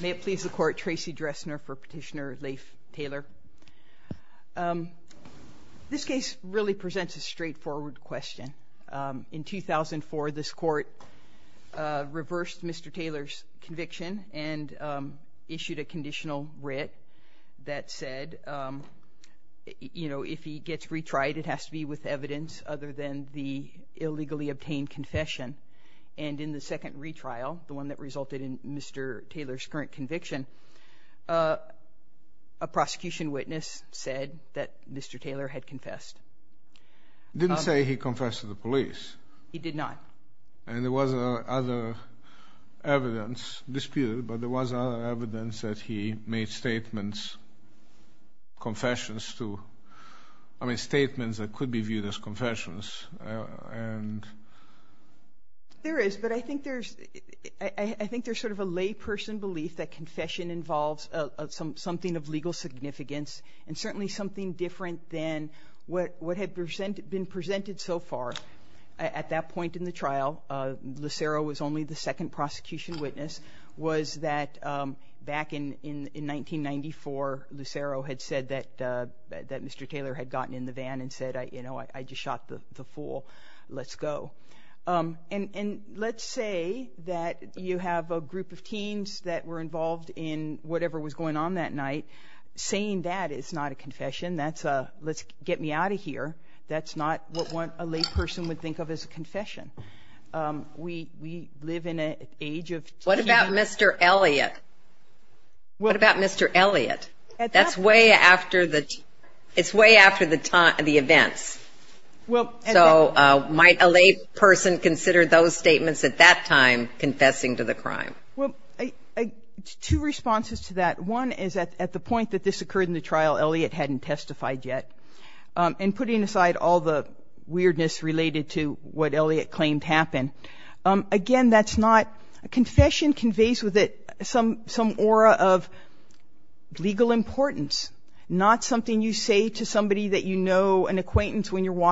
May it please the court, Tracy Dressner for Petitioner Leif Taylor. This case really presents a straightforward question. In 2004 this court reversed Mr. Taylor's conviction and issued a conditional writ that said, you know, if he gets retried it has to be with evidence other than the illegally resulted in Mr. Taylor's current conviction. A prosecution witness said that Mr. Taylor had confessed. Didn't say he confessed to the police. He did not. And there was other evidence disputed but there was other evidence that he made statements, confessions to, I mean statements that could be viewed as I think there's sort of a layperson belief that confession involves some something of legal significance and certainly something different than what what had been presented so far. At that point in the trial Lucero was only the second prosecution witness was that back in in in 1994 Lucero had said that that Mr. Taylor had gotten in the van and said I you know I just shot the group of teens that were involved in whatever was going on that night saying that it's not a confession that's a let's get me out of here that's not what one a layperson would think of as a confession. We live in an age of... What about Mr. Elliott? What about Mr. Elliott? That's way after the it's way after the time of the events. Well so might a lay person consider those statements at that time confessing to the crime? Well two responses to that one is that at the point that this occurred in the trial Elliott hadn't testified yet and putting aside all the weirdness related to what Elliott claimed happened again that's not a confession conveys with it some some aura of legal importance not something you say to somebody that you know an acquaintance when you're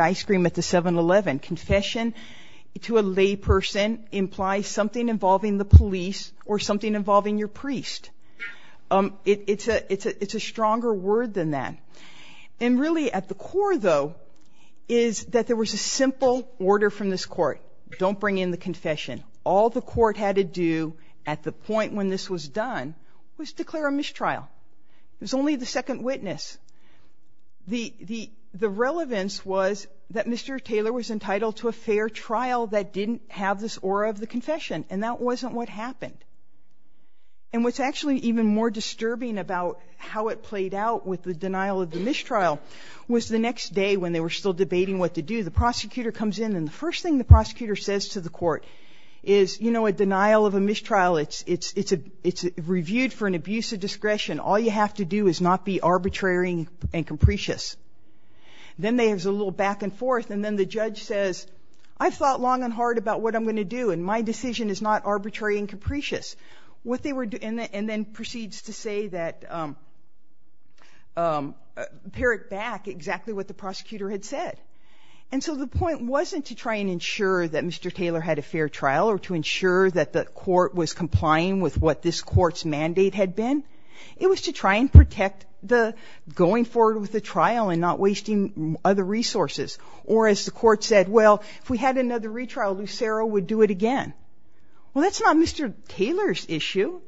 ice-cream at the 7-eleven. Confession to a lay person implies something involving the police or something involving your priest. It's a it's a it's a stronger word than that and really at the core though is that there was a simple order from this court don't bring in the confession. All the court had to do at the point when this was done was declare a mistrial. It was only the second witness. The the the relevance was that Mr. Taylor was entitled to a fair trial that didn't have this aura of the confession and that wasn't what happened and what's actually even more disturbing about how it played out with the denial of the mistrial was the next day when they were still debating what to do the prosecutor comes in and the first thing the prosecutor says to the court is you know a denial of a mistrial it's it's it's a reviewed for an abuse of discretion all you have to do is not be arbitrary and capricious. Then there's a little back and forth and then the judge says I've thought long and hard about what I'm going to do and my decision is not arbitrary and capricious. What they were doing and then proceeds to say that pare it back exactly what the prosecutor had said and so the point wasn't to try and ensure that Mr. Taylor had a fair trial or to ensure that the court was mandate had been. It was to try and protect the going forward with the trial and not wasting other resources or as the court said well if we had another retrial Lucero would do it again. Well that's not Mr. Taylor's issue.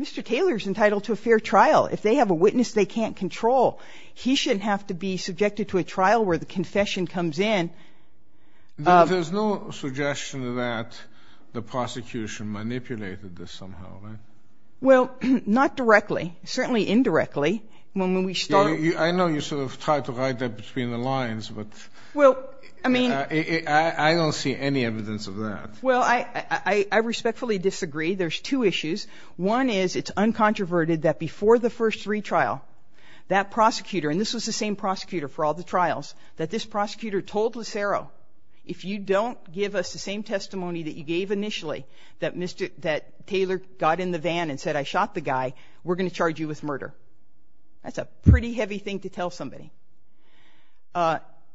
Mr. Taylor's entitled to a fair trial if they have a witness they can't control. He shouldn't have to be subjected to a trial where the confession comes in. There's no suggestion that the prosecution manipulated this somehow. Well not directly certainly indirectly when we started. I know you sort of tried to hide that between the lines but well I mean I don't see any evidence of that. Well I I respectfully disagree there's two issues. One is it's uncontroverted that before the first retrial that prosecutor and this was the same prosecutor for all the trials that this prosecutor told Lucero if you don't give us the same testimony that you gave initially that Mr. that Taylor got in the van and said I shot the guy we're gonna charge you with murder. That's a pretty heavy thing to tell somebody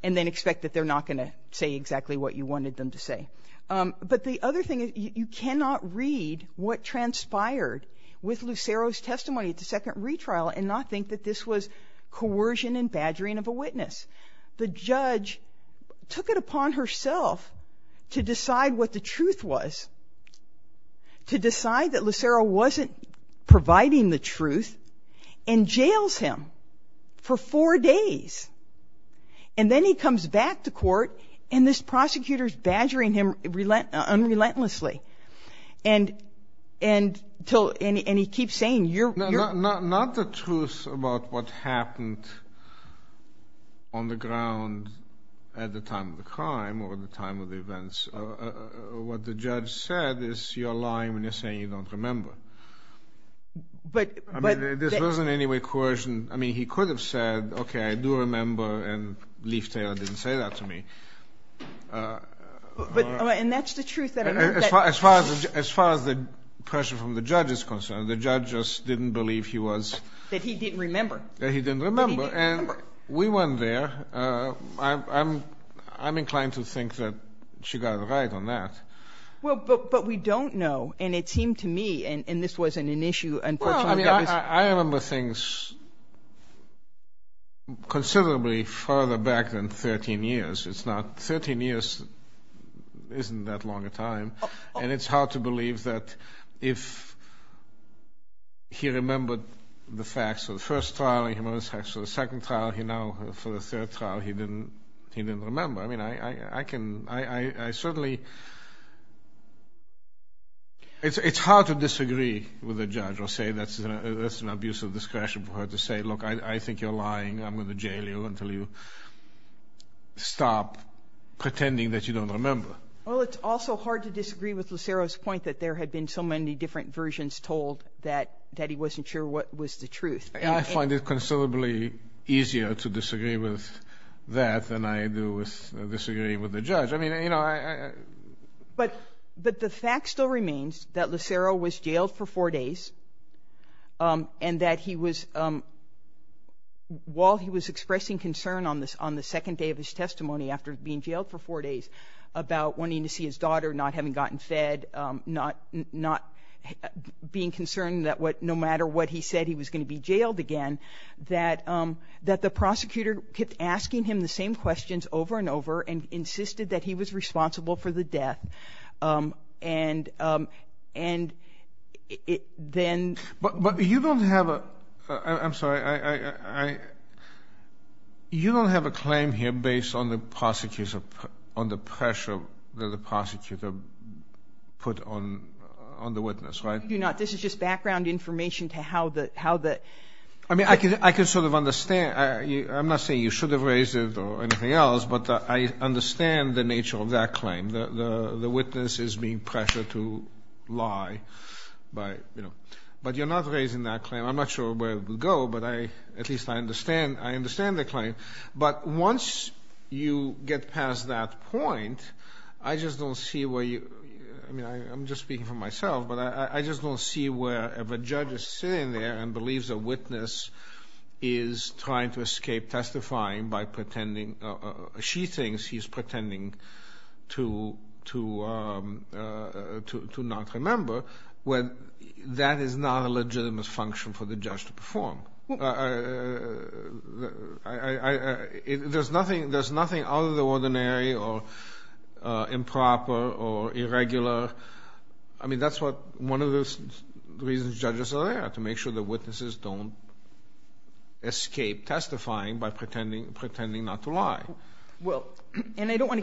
and then expect that they're not gonna say exactly what you wanted them to say. But the other thing is you cannot read what transpired with Lucero's testimony at the second retrial and not think that this was coercion and badgering of a witness. The judge took it upon herself to decide what the truth was. To decide that Lucero wasn't providing the truth and jails him for four days and then he comes back to court and this prosecutor is badgering him relent unrelentlessly and and till and he keeps saying you're not not the truth about what happened on the ground at the time of the crime or the time of the events. What the judge said is you're lying when you're saying you don't remember. But there wasn't any way coercion I mean he could have said okay I do remember and Leaf Taylor didn't say that to me. But and that's the truth. As far as far as the pressure from the judge is concerned the judge just didn't believe he was. That he didn't remember. That he didn't remember and we weren't there. I'm I'm inclined to think that she got right on that. Well but we don't know and it seemed to me and and this wasn't an issue. I remember things considerably further back than 13 years. It's not 13 years isn't that long a time and it's hard to believe that if he remembered the facts of the first trial he remembers the facts of the second trial he now for the third trial he didn't he didn't remember. I mean I I can I I certainly it's it's hard to disagree with a judge or say that's an abuse of discretion for her to say look I think you're lying I'm gonna jail you until you stop pretending that you don't remember. Well it's also hard to disagree with Lucero's point that there had been so many different versions told that that he wasn't sure what was the truth. I find it considerably easier to disagree with that than I do with disagreeing with the judge. I mean you know I but but the fact still remains that Lucero was jailed for four days and that he was while he was expressing concern on this on the second day of his testimony after being jailed for four days about wanting to see his daughter not having gotten fed not not being concerned that what no matter what he said he was going to be jailed again that that the prosecutor kept asking him the same questions over and over and and then. But but you don't have a I'm sorry I you don't have a claim here based on the prosecutors of on the pressure that the prosecutor put on on the witness right? You're not this is just background information to how that how that. I mean I could I could sort of understand I'm not saying you should have raised it or anything else but I understand the nature of that claim the witness is being pressured to lie by you know but you're not raising that claim I'm not sure where it would go but I at least I understand I understand the claim but once you get past that point I just don't see where you I mean I'm just speaking for myself but I just don't see where if a judge is sitting there and believes a witness is trying to escape testifying by pretending she thinks he's to not remember when that is not a legitimate function for the judge to perform. There's nothing there's nothing out of the ordinary or improper or irregular I mean that's what one of those reasons judges are there to make sure the witnesses don't escape testifying by pretending pretending not to lie. I don't want to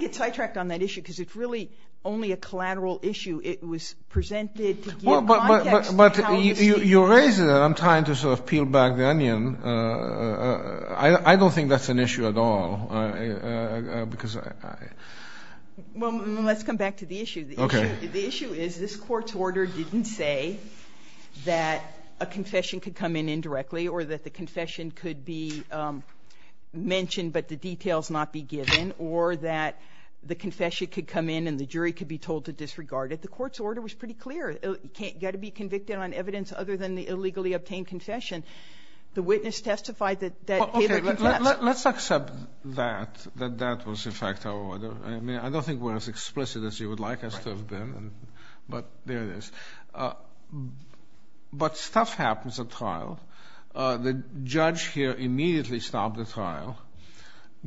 get sidetracked on that issue because it's really only a collateral issue it was presented but you raise it I'm trying to sort of peel back the onion I don't think that's an issue at all because let's come back to the issue. The issue is this court's order didn't say that a confession could come in indirectly or that the confession could be mentioned but the details not be given or that the confession could come in and the jury could be told to disregard it the court's order was pretty clear it got to be convicted on evidence other than the illegally obtained confession the witness testified that. Let's accept that that that was in fact I mean I don't think we're as explicit as you would like us to have been but there it is. But stuff happens at trial the judge here immediately stopped the trial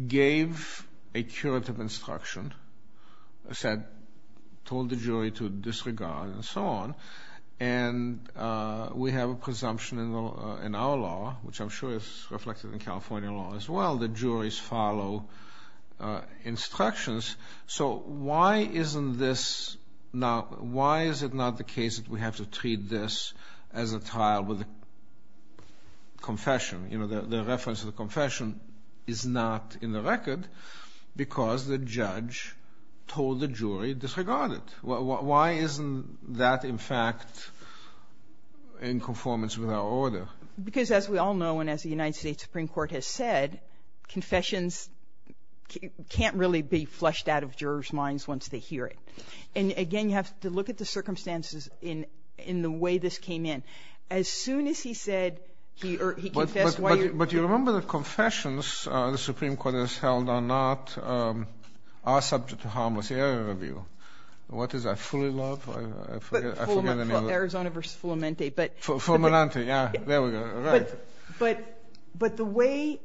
gave a curative instruction said told the jury to disregard and so on and we have a presumption in our law which I'm sure is reflected in California law as well the why isn't this now why is it not the case that we have to treat this as a trial with a confession you know the reference of the confession is not in the record because the judge told the jury disregarded well why isn't that in fact in conformance with our order? Because as we all know and as the United States Supreme Court has said confessions can't really be flushed out of jurors minds once they hear it and again you have to look at the circumstances in in the way this came in as soon as he said he confessed. But you remember the confessions the Supreme Court has held are not are subject to harmless error review what is that fully love? Arizona versus Fulamente but Fulamente yeah there we go right but but the way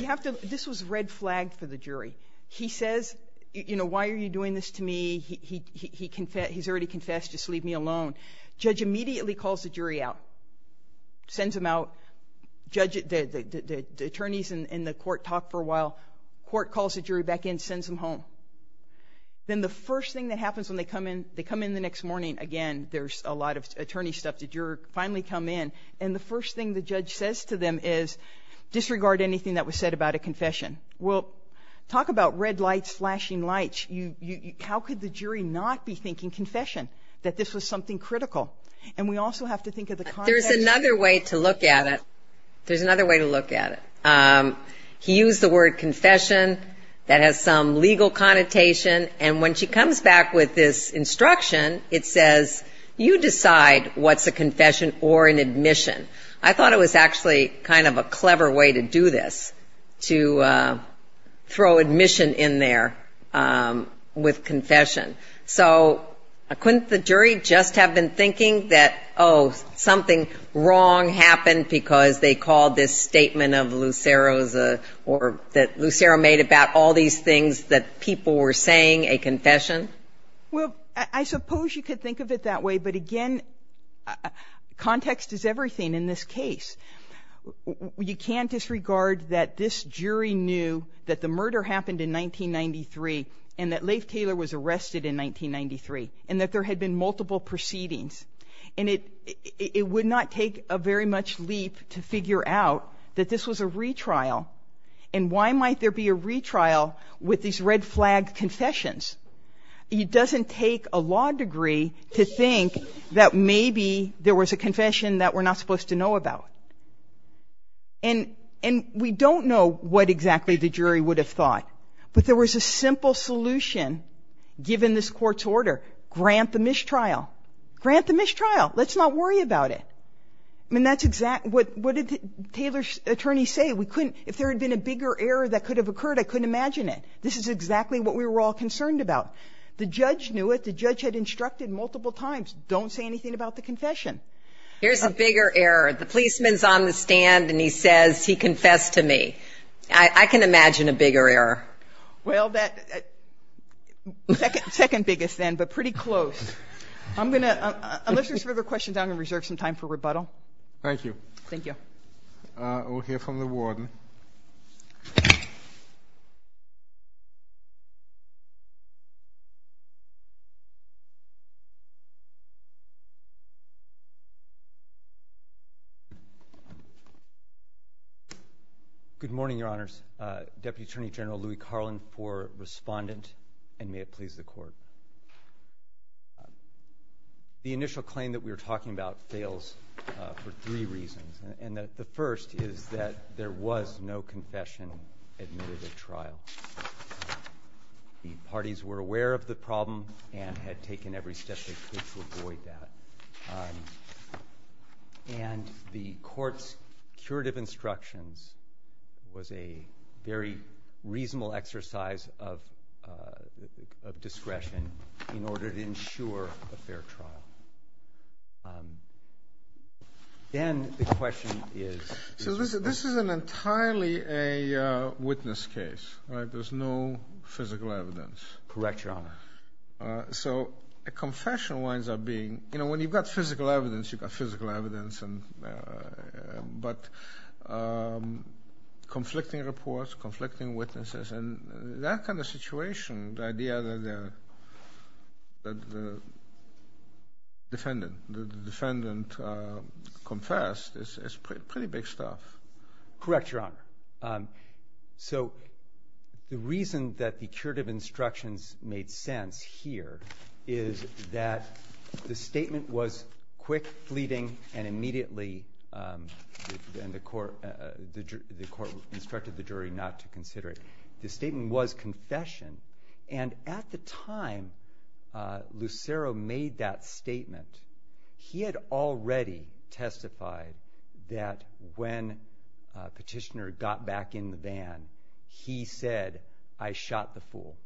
you have to this was red flag for the jury he says you know why are you doing this to me he confessed he's already confessed just leave me alone judge immediately calls the jury out sends him out judge it did the attorneys in the court talk for a while court calls the jury back in sends them home then the first thing that happens when they come in they come in the next morning again there's a lot of attorney stuff the juror finally come in and the first thing the judge says to them is disregard anything that was said about a confession. We'll talk about red lights flashing lights you you how could the jury not be thinking confession that this was something critical and we also have to think of the context. There's another way to look at it there's another way to look at it he used the word confession that has some legal connotation and when she comes back with this instruction it says you decide what's a confession or an admission I thought it was actually kind of a clever way to do this to throw admission in there with confession so couldn't the jury just have been thinking that oh something wrong happened because they called this statement of Lucero's or that Lucero made about all these things that people were saying a confession. Well I suppose you could think of it that way but again context is everything in this case. You can't disregard that this jury knew that the murder happened in 1993 and that Leif Taylor was arrested in 1993 and that there had been multiple proceedings and it it would not take a very much leap to figure out that this was a retrial and why might there be a retrial with these red flag confessions. It doesn't take a degree to think that maybe there was a confession that we're not supposed to know about and and we don't know what exactly the jury would have thought but there was a simple solution given this court's order grant the mistrial grant the mistrial let's not worry about it I mean that's exactly what what did the Taylor's attorney say we couldn't if there had been a bigger error that could have occurred I couldn't imagine it this is exactly what we were all concerned about the judge knew it the judge had instructed multiple times don't say anything about the confession. Here's a bigger error the policeman's on the stand and he says he confessed to me I can imagine a bigger error. Well that second biggest then but pretty close. I'm gonna unless there's further questions I'm gonna reserve some time for rebuttal. Thank you. Thank you. We'll hear from the warden. Good morning your honors Deputy Attorney General Louie Carlin for respondent and may it please the court. The initial claim that we were talking about fails for three reasons and that the first is that there was no confession admitted at the time. The second is that the court was aware of the problem and had taken every step they could to avoid that and the court's curative instructions was a very reasonable exercise of discretion in order to ensure a fair trial. Then the question is. So this is an entirely a witness case right there's no physical evidence. Correct your honor. So a confession winds up being you know when you've got physical evidence you've got physical evidence and but conflicting reports conflicting witnesses and that kind of situation the idea that the defendant the defendant confessed is pretty big stuff. Correct your honor. So the reason that the curative instructions made sense here is that the statement was quick fleeting and immediately and the court the court instructed the jury not to consider it. The statement was confession and at the time Lucero made that statement he had already testified that when petitioner got back in the van he said I shot the fool.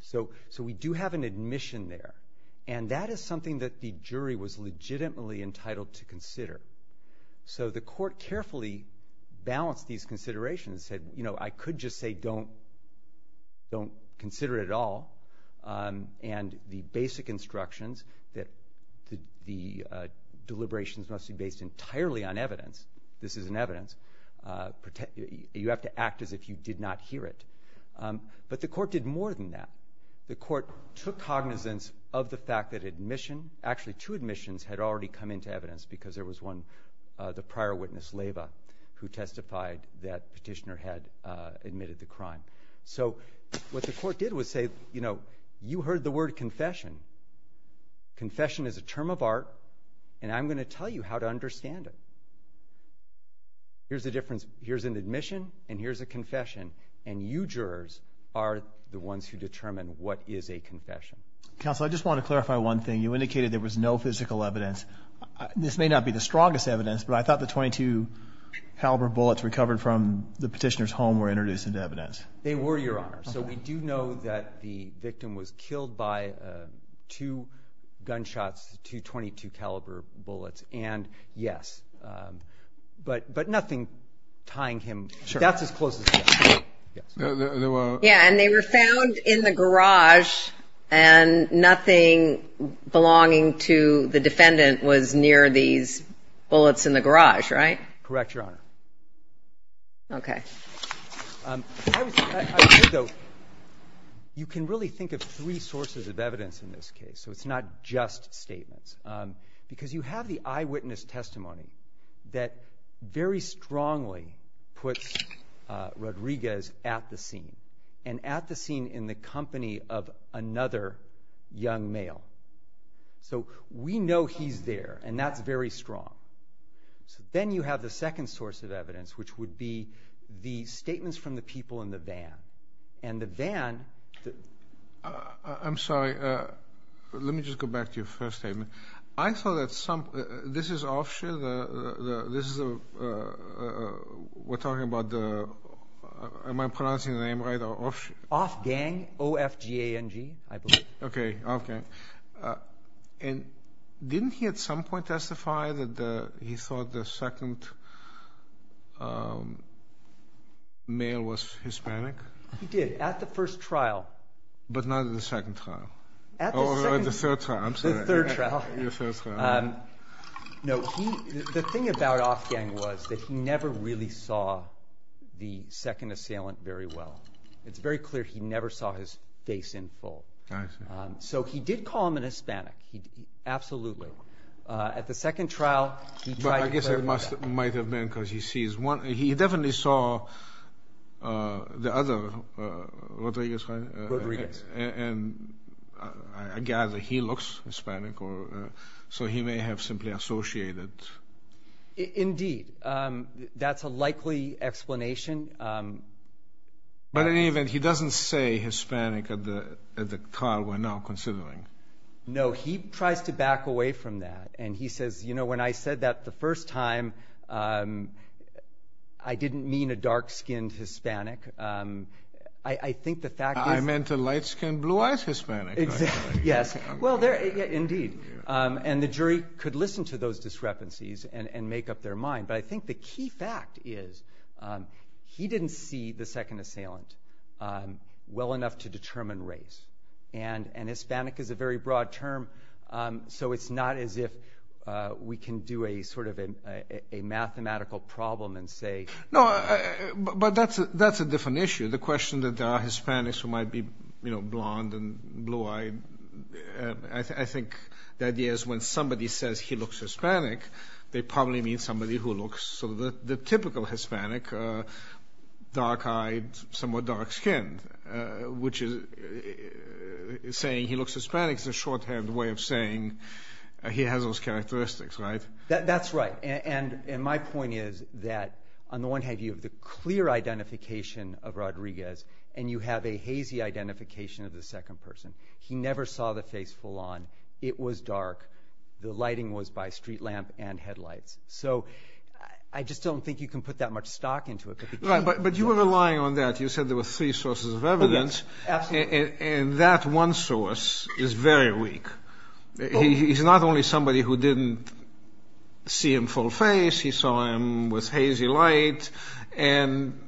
So so we do have an admission there and that is something that the jury was legitimately entitled to consider. So the court carefully balanced these considerations said you know I could just say don't don't consider it at all and the basic instructions that the deliberations must be based entirely on evidence this is an evidence you have to act as if you did not hear it. But the court did more than that. The court took cognizance of the fact that admission actually two admissions had already come into evidence because there was one the prior witness Lava who testified that petitioner had admitted the crime. So what the court did was say you know you heard the word confession. Confession is a term of art and I'm going to tell you how to understand it. Here's the difference here's an admission and here's a confession and you jurors are the ones who determine what is a confession. Counsel I just want to clarify one thing you indicated there was no physical evidence. This may not be the strongest evidence but I thought the 22 caliber bullets recovered from the petitioner's home were introduced into evidence. They were your honor. So we do know that the victim was killed by two gunshots two 22 caliber bullets and yes but but nothing tying him. That's as close as they were found in the garage and nothing belonging to the defendant was near these bullets in the garage right? Correct your honor. Okay. You can really think of three sources of evidence in this case so it's not just statements because you have the eyewitness testimony that very strongly puts Rodriguez at the scene and at the scene in the company of another young male. So we know he's there and that's very strong. Then you have the second source of evidence which would be the statements from the people in the van and the van. I'm sorry let me just go back to your first statement. I thought that some this is offshare the this is a we're talking about the am I pronouncing the name right? Offshare. Offgang. O-F-G-A-N-G. I believe. Okay okay and didn't he at some point testify that he thought the second male was Hispanic? He did at the first trial. But not in the second trial. At the third trial. The thing about Offgang was that he never really saw the second assailant very well. It's very clear he never saw his face in full. So he did call him an Hispanic. Absolutely. At the second trial. I guess it might have been because he definitely saw the other. Rodriguez. And I gather he looks Hispanic or so he may have simply associated. Indeed that's a likely explanation. But in any event he doesn't say Hispanic at the trial we're now considering. No he tries to back I didn't mean a dark-skinned Hispanic. I think the fact. I meant a light-skinned blue-eyed Hispanic. Yes well there indeed and the jury could listen to those discrepancies and and make up their mind. But I think the key fact is he didn't see the second assailant well enough to determine race. And and Hispanic is a very broad term so it's not as if we can do a sort of a mathematical problem and say. No but that's that's a different issue. The question that there are Hispanics who might be you know blonde and blue-eyed. I think the idea is when somebody says he looks Hispanic they probably mean somebody who looks. So the typical Hispanic dark-eyed somewhat dark-skinned which is saying he looks Hispanic is a shorthand way of saying he has those characteristics right. That's right and and my point is that on the one hand you have the clear identification of Rodriguez and you have a hazy identification of the second person. He never saw the face full-on. It was dark. The lighting was by street lamp and headlights. So I just don't think you can put that much stock into it. But you were relying on that. You said there were three sources of evidence and that one source is very weak. He's not only somebody who didn't see him full face. He saw him with hazy light and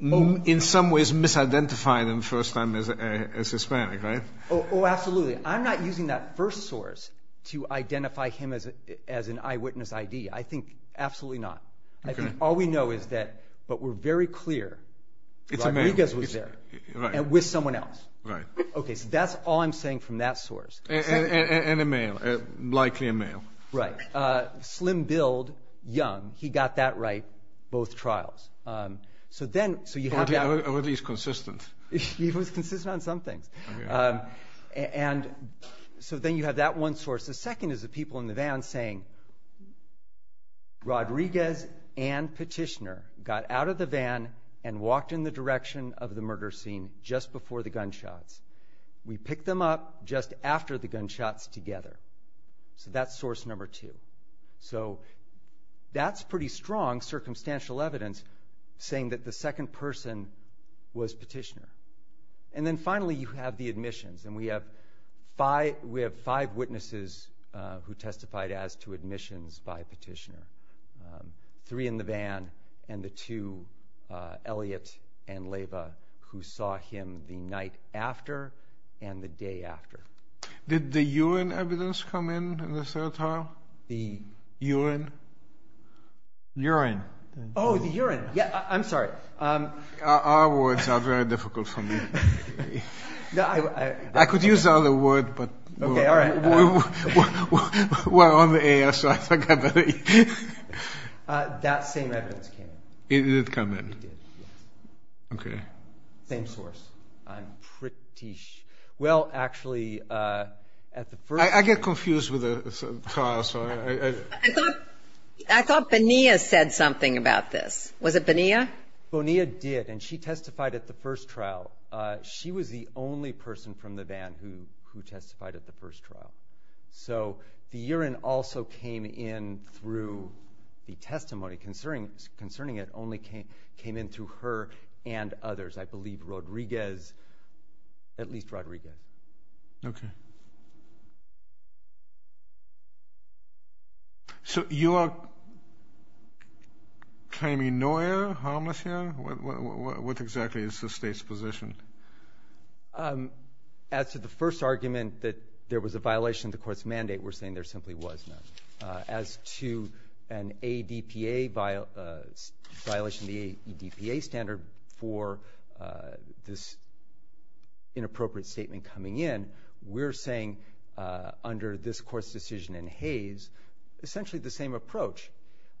in some ways misidentified him first time as Hispanic right. Oh absolutely. I'm not using that first source to identify him as as an eyewitness ID. I think absolutely not. I think all we know is that but we're very clear. Rodriguez was there and with someone else. Right. Okay so that's all I'm saying from that source. And a male. Likely a male. Right. Slim build, young. He got that right both trials. So then so you have at least consistent. He was consistent on some things. And so then you have that one source. The second is the people in the van saying Rodriguez and Petitioner got out of the van and walked in the direction of the murder scene just before the gunshots. We picked them up just after the gunshots together. So that's source number two. So that's pretty strong circumstantial evidence saying that the second person was Petitioner. And then finally you have the admissions. And we have five witnesses who testified as to admissions by Petitioner. Three in the van and the two, Elliott and Leyva, who saw him the night after and the day after. Did the urine evidence come in in the third trial? The urine? Urine. Oh the urine. Yeah I'm sorry. Our words are very difficult for me. I could use the other word but we're on the air. That same evidence came in. It did come in. Okay. Same source. I'm pretty sure. Well actually. I get confused with the trial. I thought Bonilla said something about this. Was it Bonilla? Bonilla did and she testified at the first trial. She was the only person from the van who who testified at the first trial. So the urine also came in through the testimony concerning concerning it only came came in through her and others. I believe Rodriguez, at least Rodriguez. Okay. So you are claiming no air? Harmless air? What exactly is the state's position? As to the first argument that there was a violation of the court's mandate, we're saying there simply was none. As to an ADPA violation of the ADPA standard for this inappropriate statement coming in, we're saying under this court's decision in Hayes, essentially the same approach.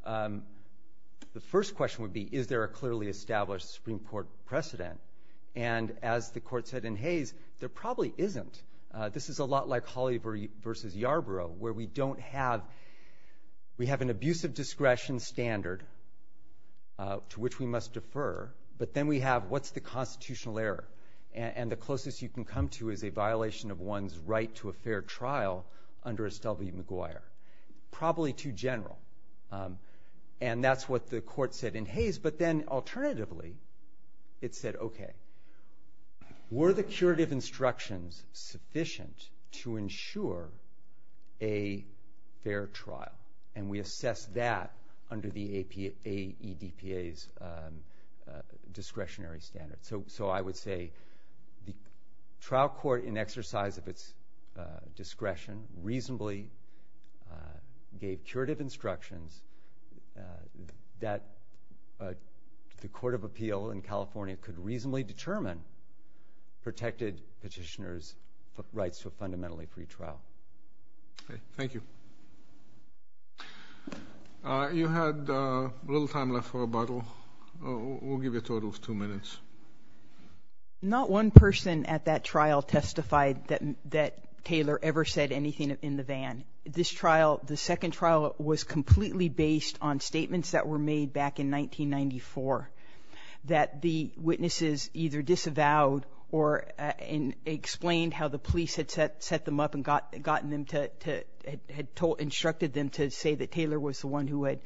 The first question would be is there a clearly established Supreme Court precedent? And as the court said in Hayes, there probably isn't. This is a lot like Holly versus Yarborough where we don't have we have an abusive discretion standard to which we must defer but then we have what's the constitutional error? And the closest you can come to is a violation of one's right to a fair trial under Estelle B. McGuire. Probably too general. And that's what the court said in Hayes but then alternatively it said okay were the curative instructions sufficient to ensure a fair trial? And we So I would say the trial court in exercise of its discretion reasonably gave curative instructions that the Court of Appeal in California could reasonably determine protected petitioners rights to a fundamentally free trial. Thank you. You had a little time left for rebuttal. We'll give you a total of two minutes. Not one person at that trial testified that Taylor ever said anything in the van. This trial, the second trial, was completely based on statements that were made back in 1994 that the witnesses either disavowed or explained how the instructed them to say that Taylor was the one who had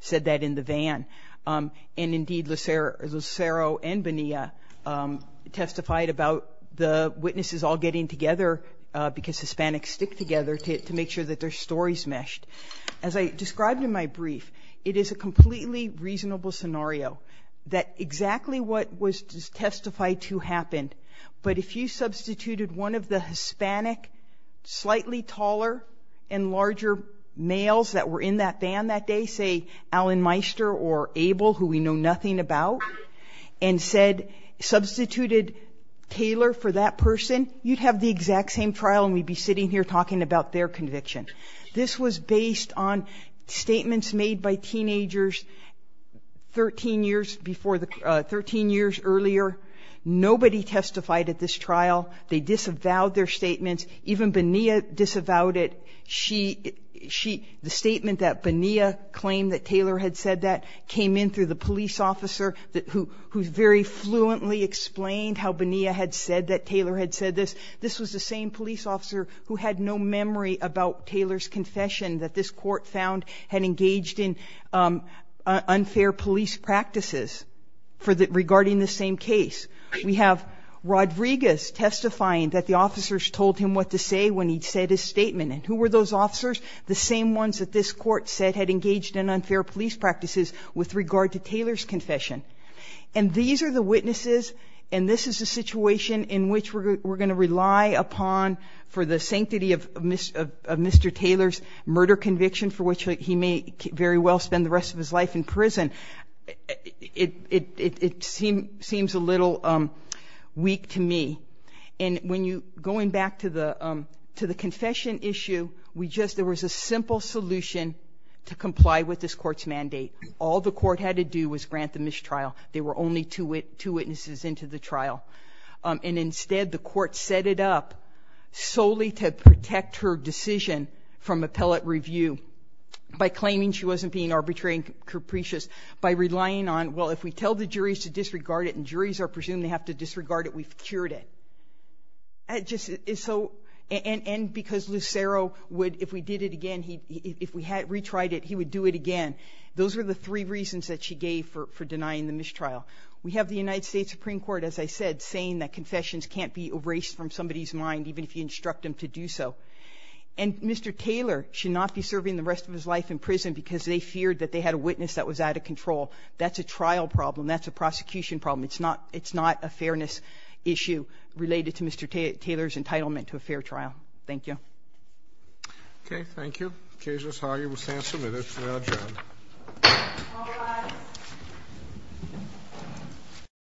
said that in the van. And indeed Lucero and Bonilla testified about the witnesses all getting together because Hispanics stick together to make sure that their stories meshed. As I described in my brief, it is a completely reasonable scenario that exactly what was testified to happened. But if you substituted one of the larger males that were in that van that day, say Allen Meister or Abel, who we know nothing about, and said substituted Taylor for that person, you'd have the exact same trial and we'd be sitting here talking about their conviction. This was based on statements made by teenagers 13 years earlier. Nobody testified at this trial. They disavowed their statements. Even Bonilla disavowed it. The statement that Bonilla claimed that Taylor had said that came in through the police officer who very fluently explained how Bonilla had said that Taylor had said this. This was the same police officer who had no memory about Taylor's confession that this court found had engaged in unfair police practices regarding the same case. We have Rodriguez testifying that the were those officers? The same ones that this court said had engaged in unfair police practices with regard to Taylor's confession. These are the witnesses and this is a situation in which we're going to rely upon for the sanctity of Mr. Taylor's murder conviction for which he may very well spend the rest of his life in prison. It seems a little weak to me. Going back to the confession issue, there was a simple solution to comply with this court's mandate. All the court had to do was grant the mistrial. They were only two witnesses into the trial. Instead, the court set it up solely to protect her decision from appellate review by claiming she wasn't being arbitrary and capricious by relying on, well, if we tell the juries to disregard it and juries are presumed to have to disregard it, we've cured it. And because Lucero would, if we did it again, if we had retried it, he would do it again. Those were the three reasons that she gave for denying the mistrial. We have the United States Supreme Court, as I said, saying that confessions can't be erased from somebody's mind, even if you instruct them to do so. And Mr. Taylor should not be serving the rest of his life in prison because they feared that they had a witness that was out of control. That's a trial problem. That's a fairness issue related to Mr. Taylor's entitlement to a fair trial. Thank you. Okay, thank you. Case is how you will stand submitted.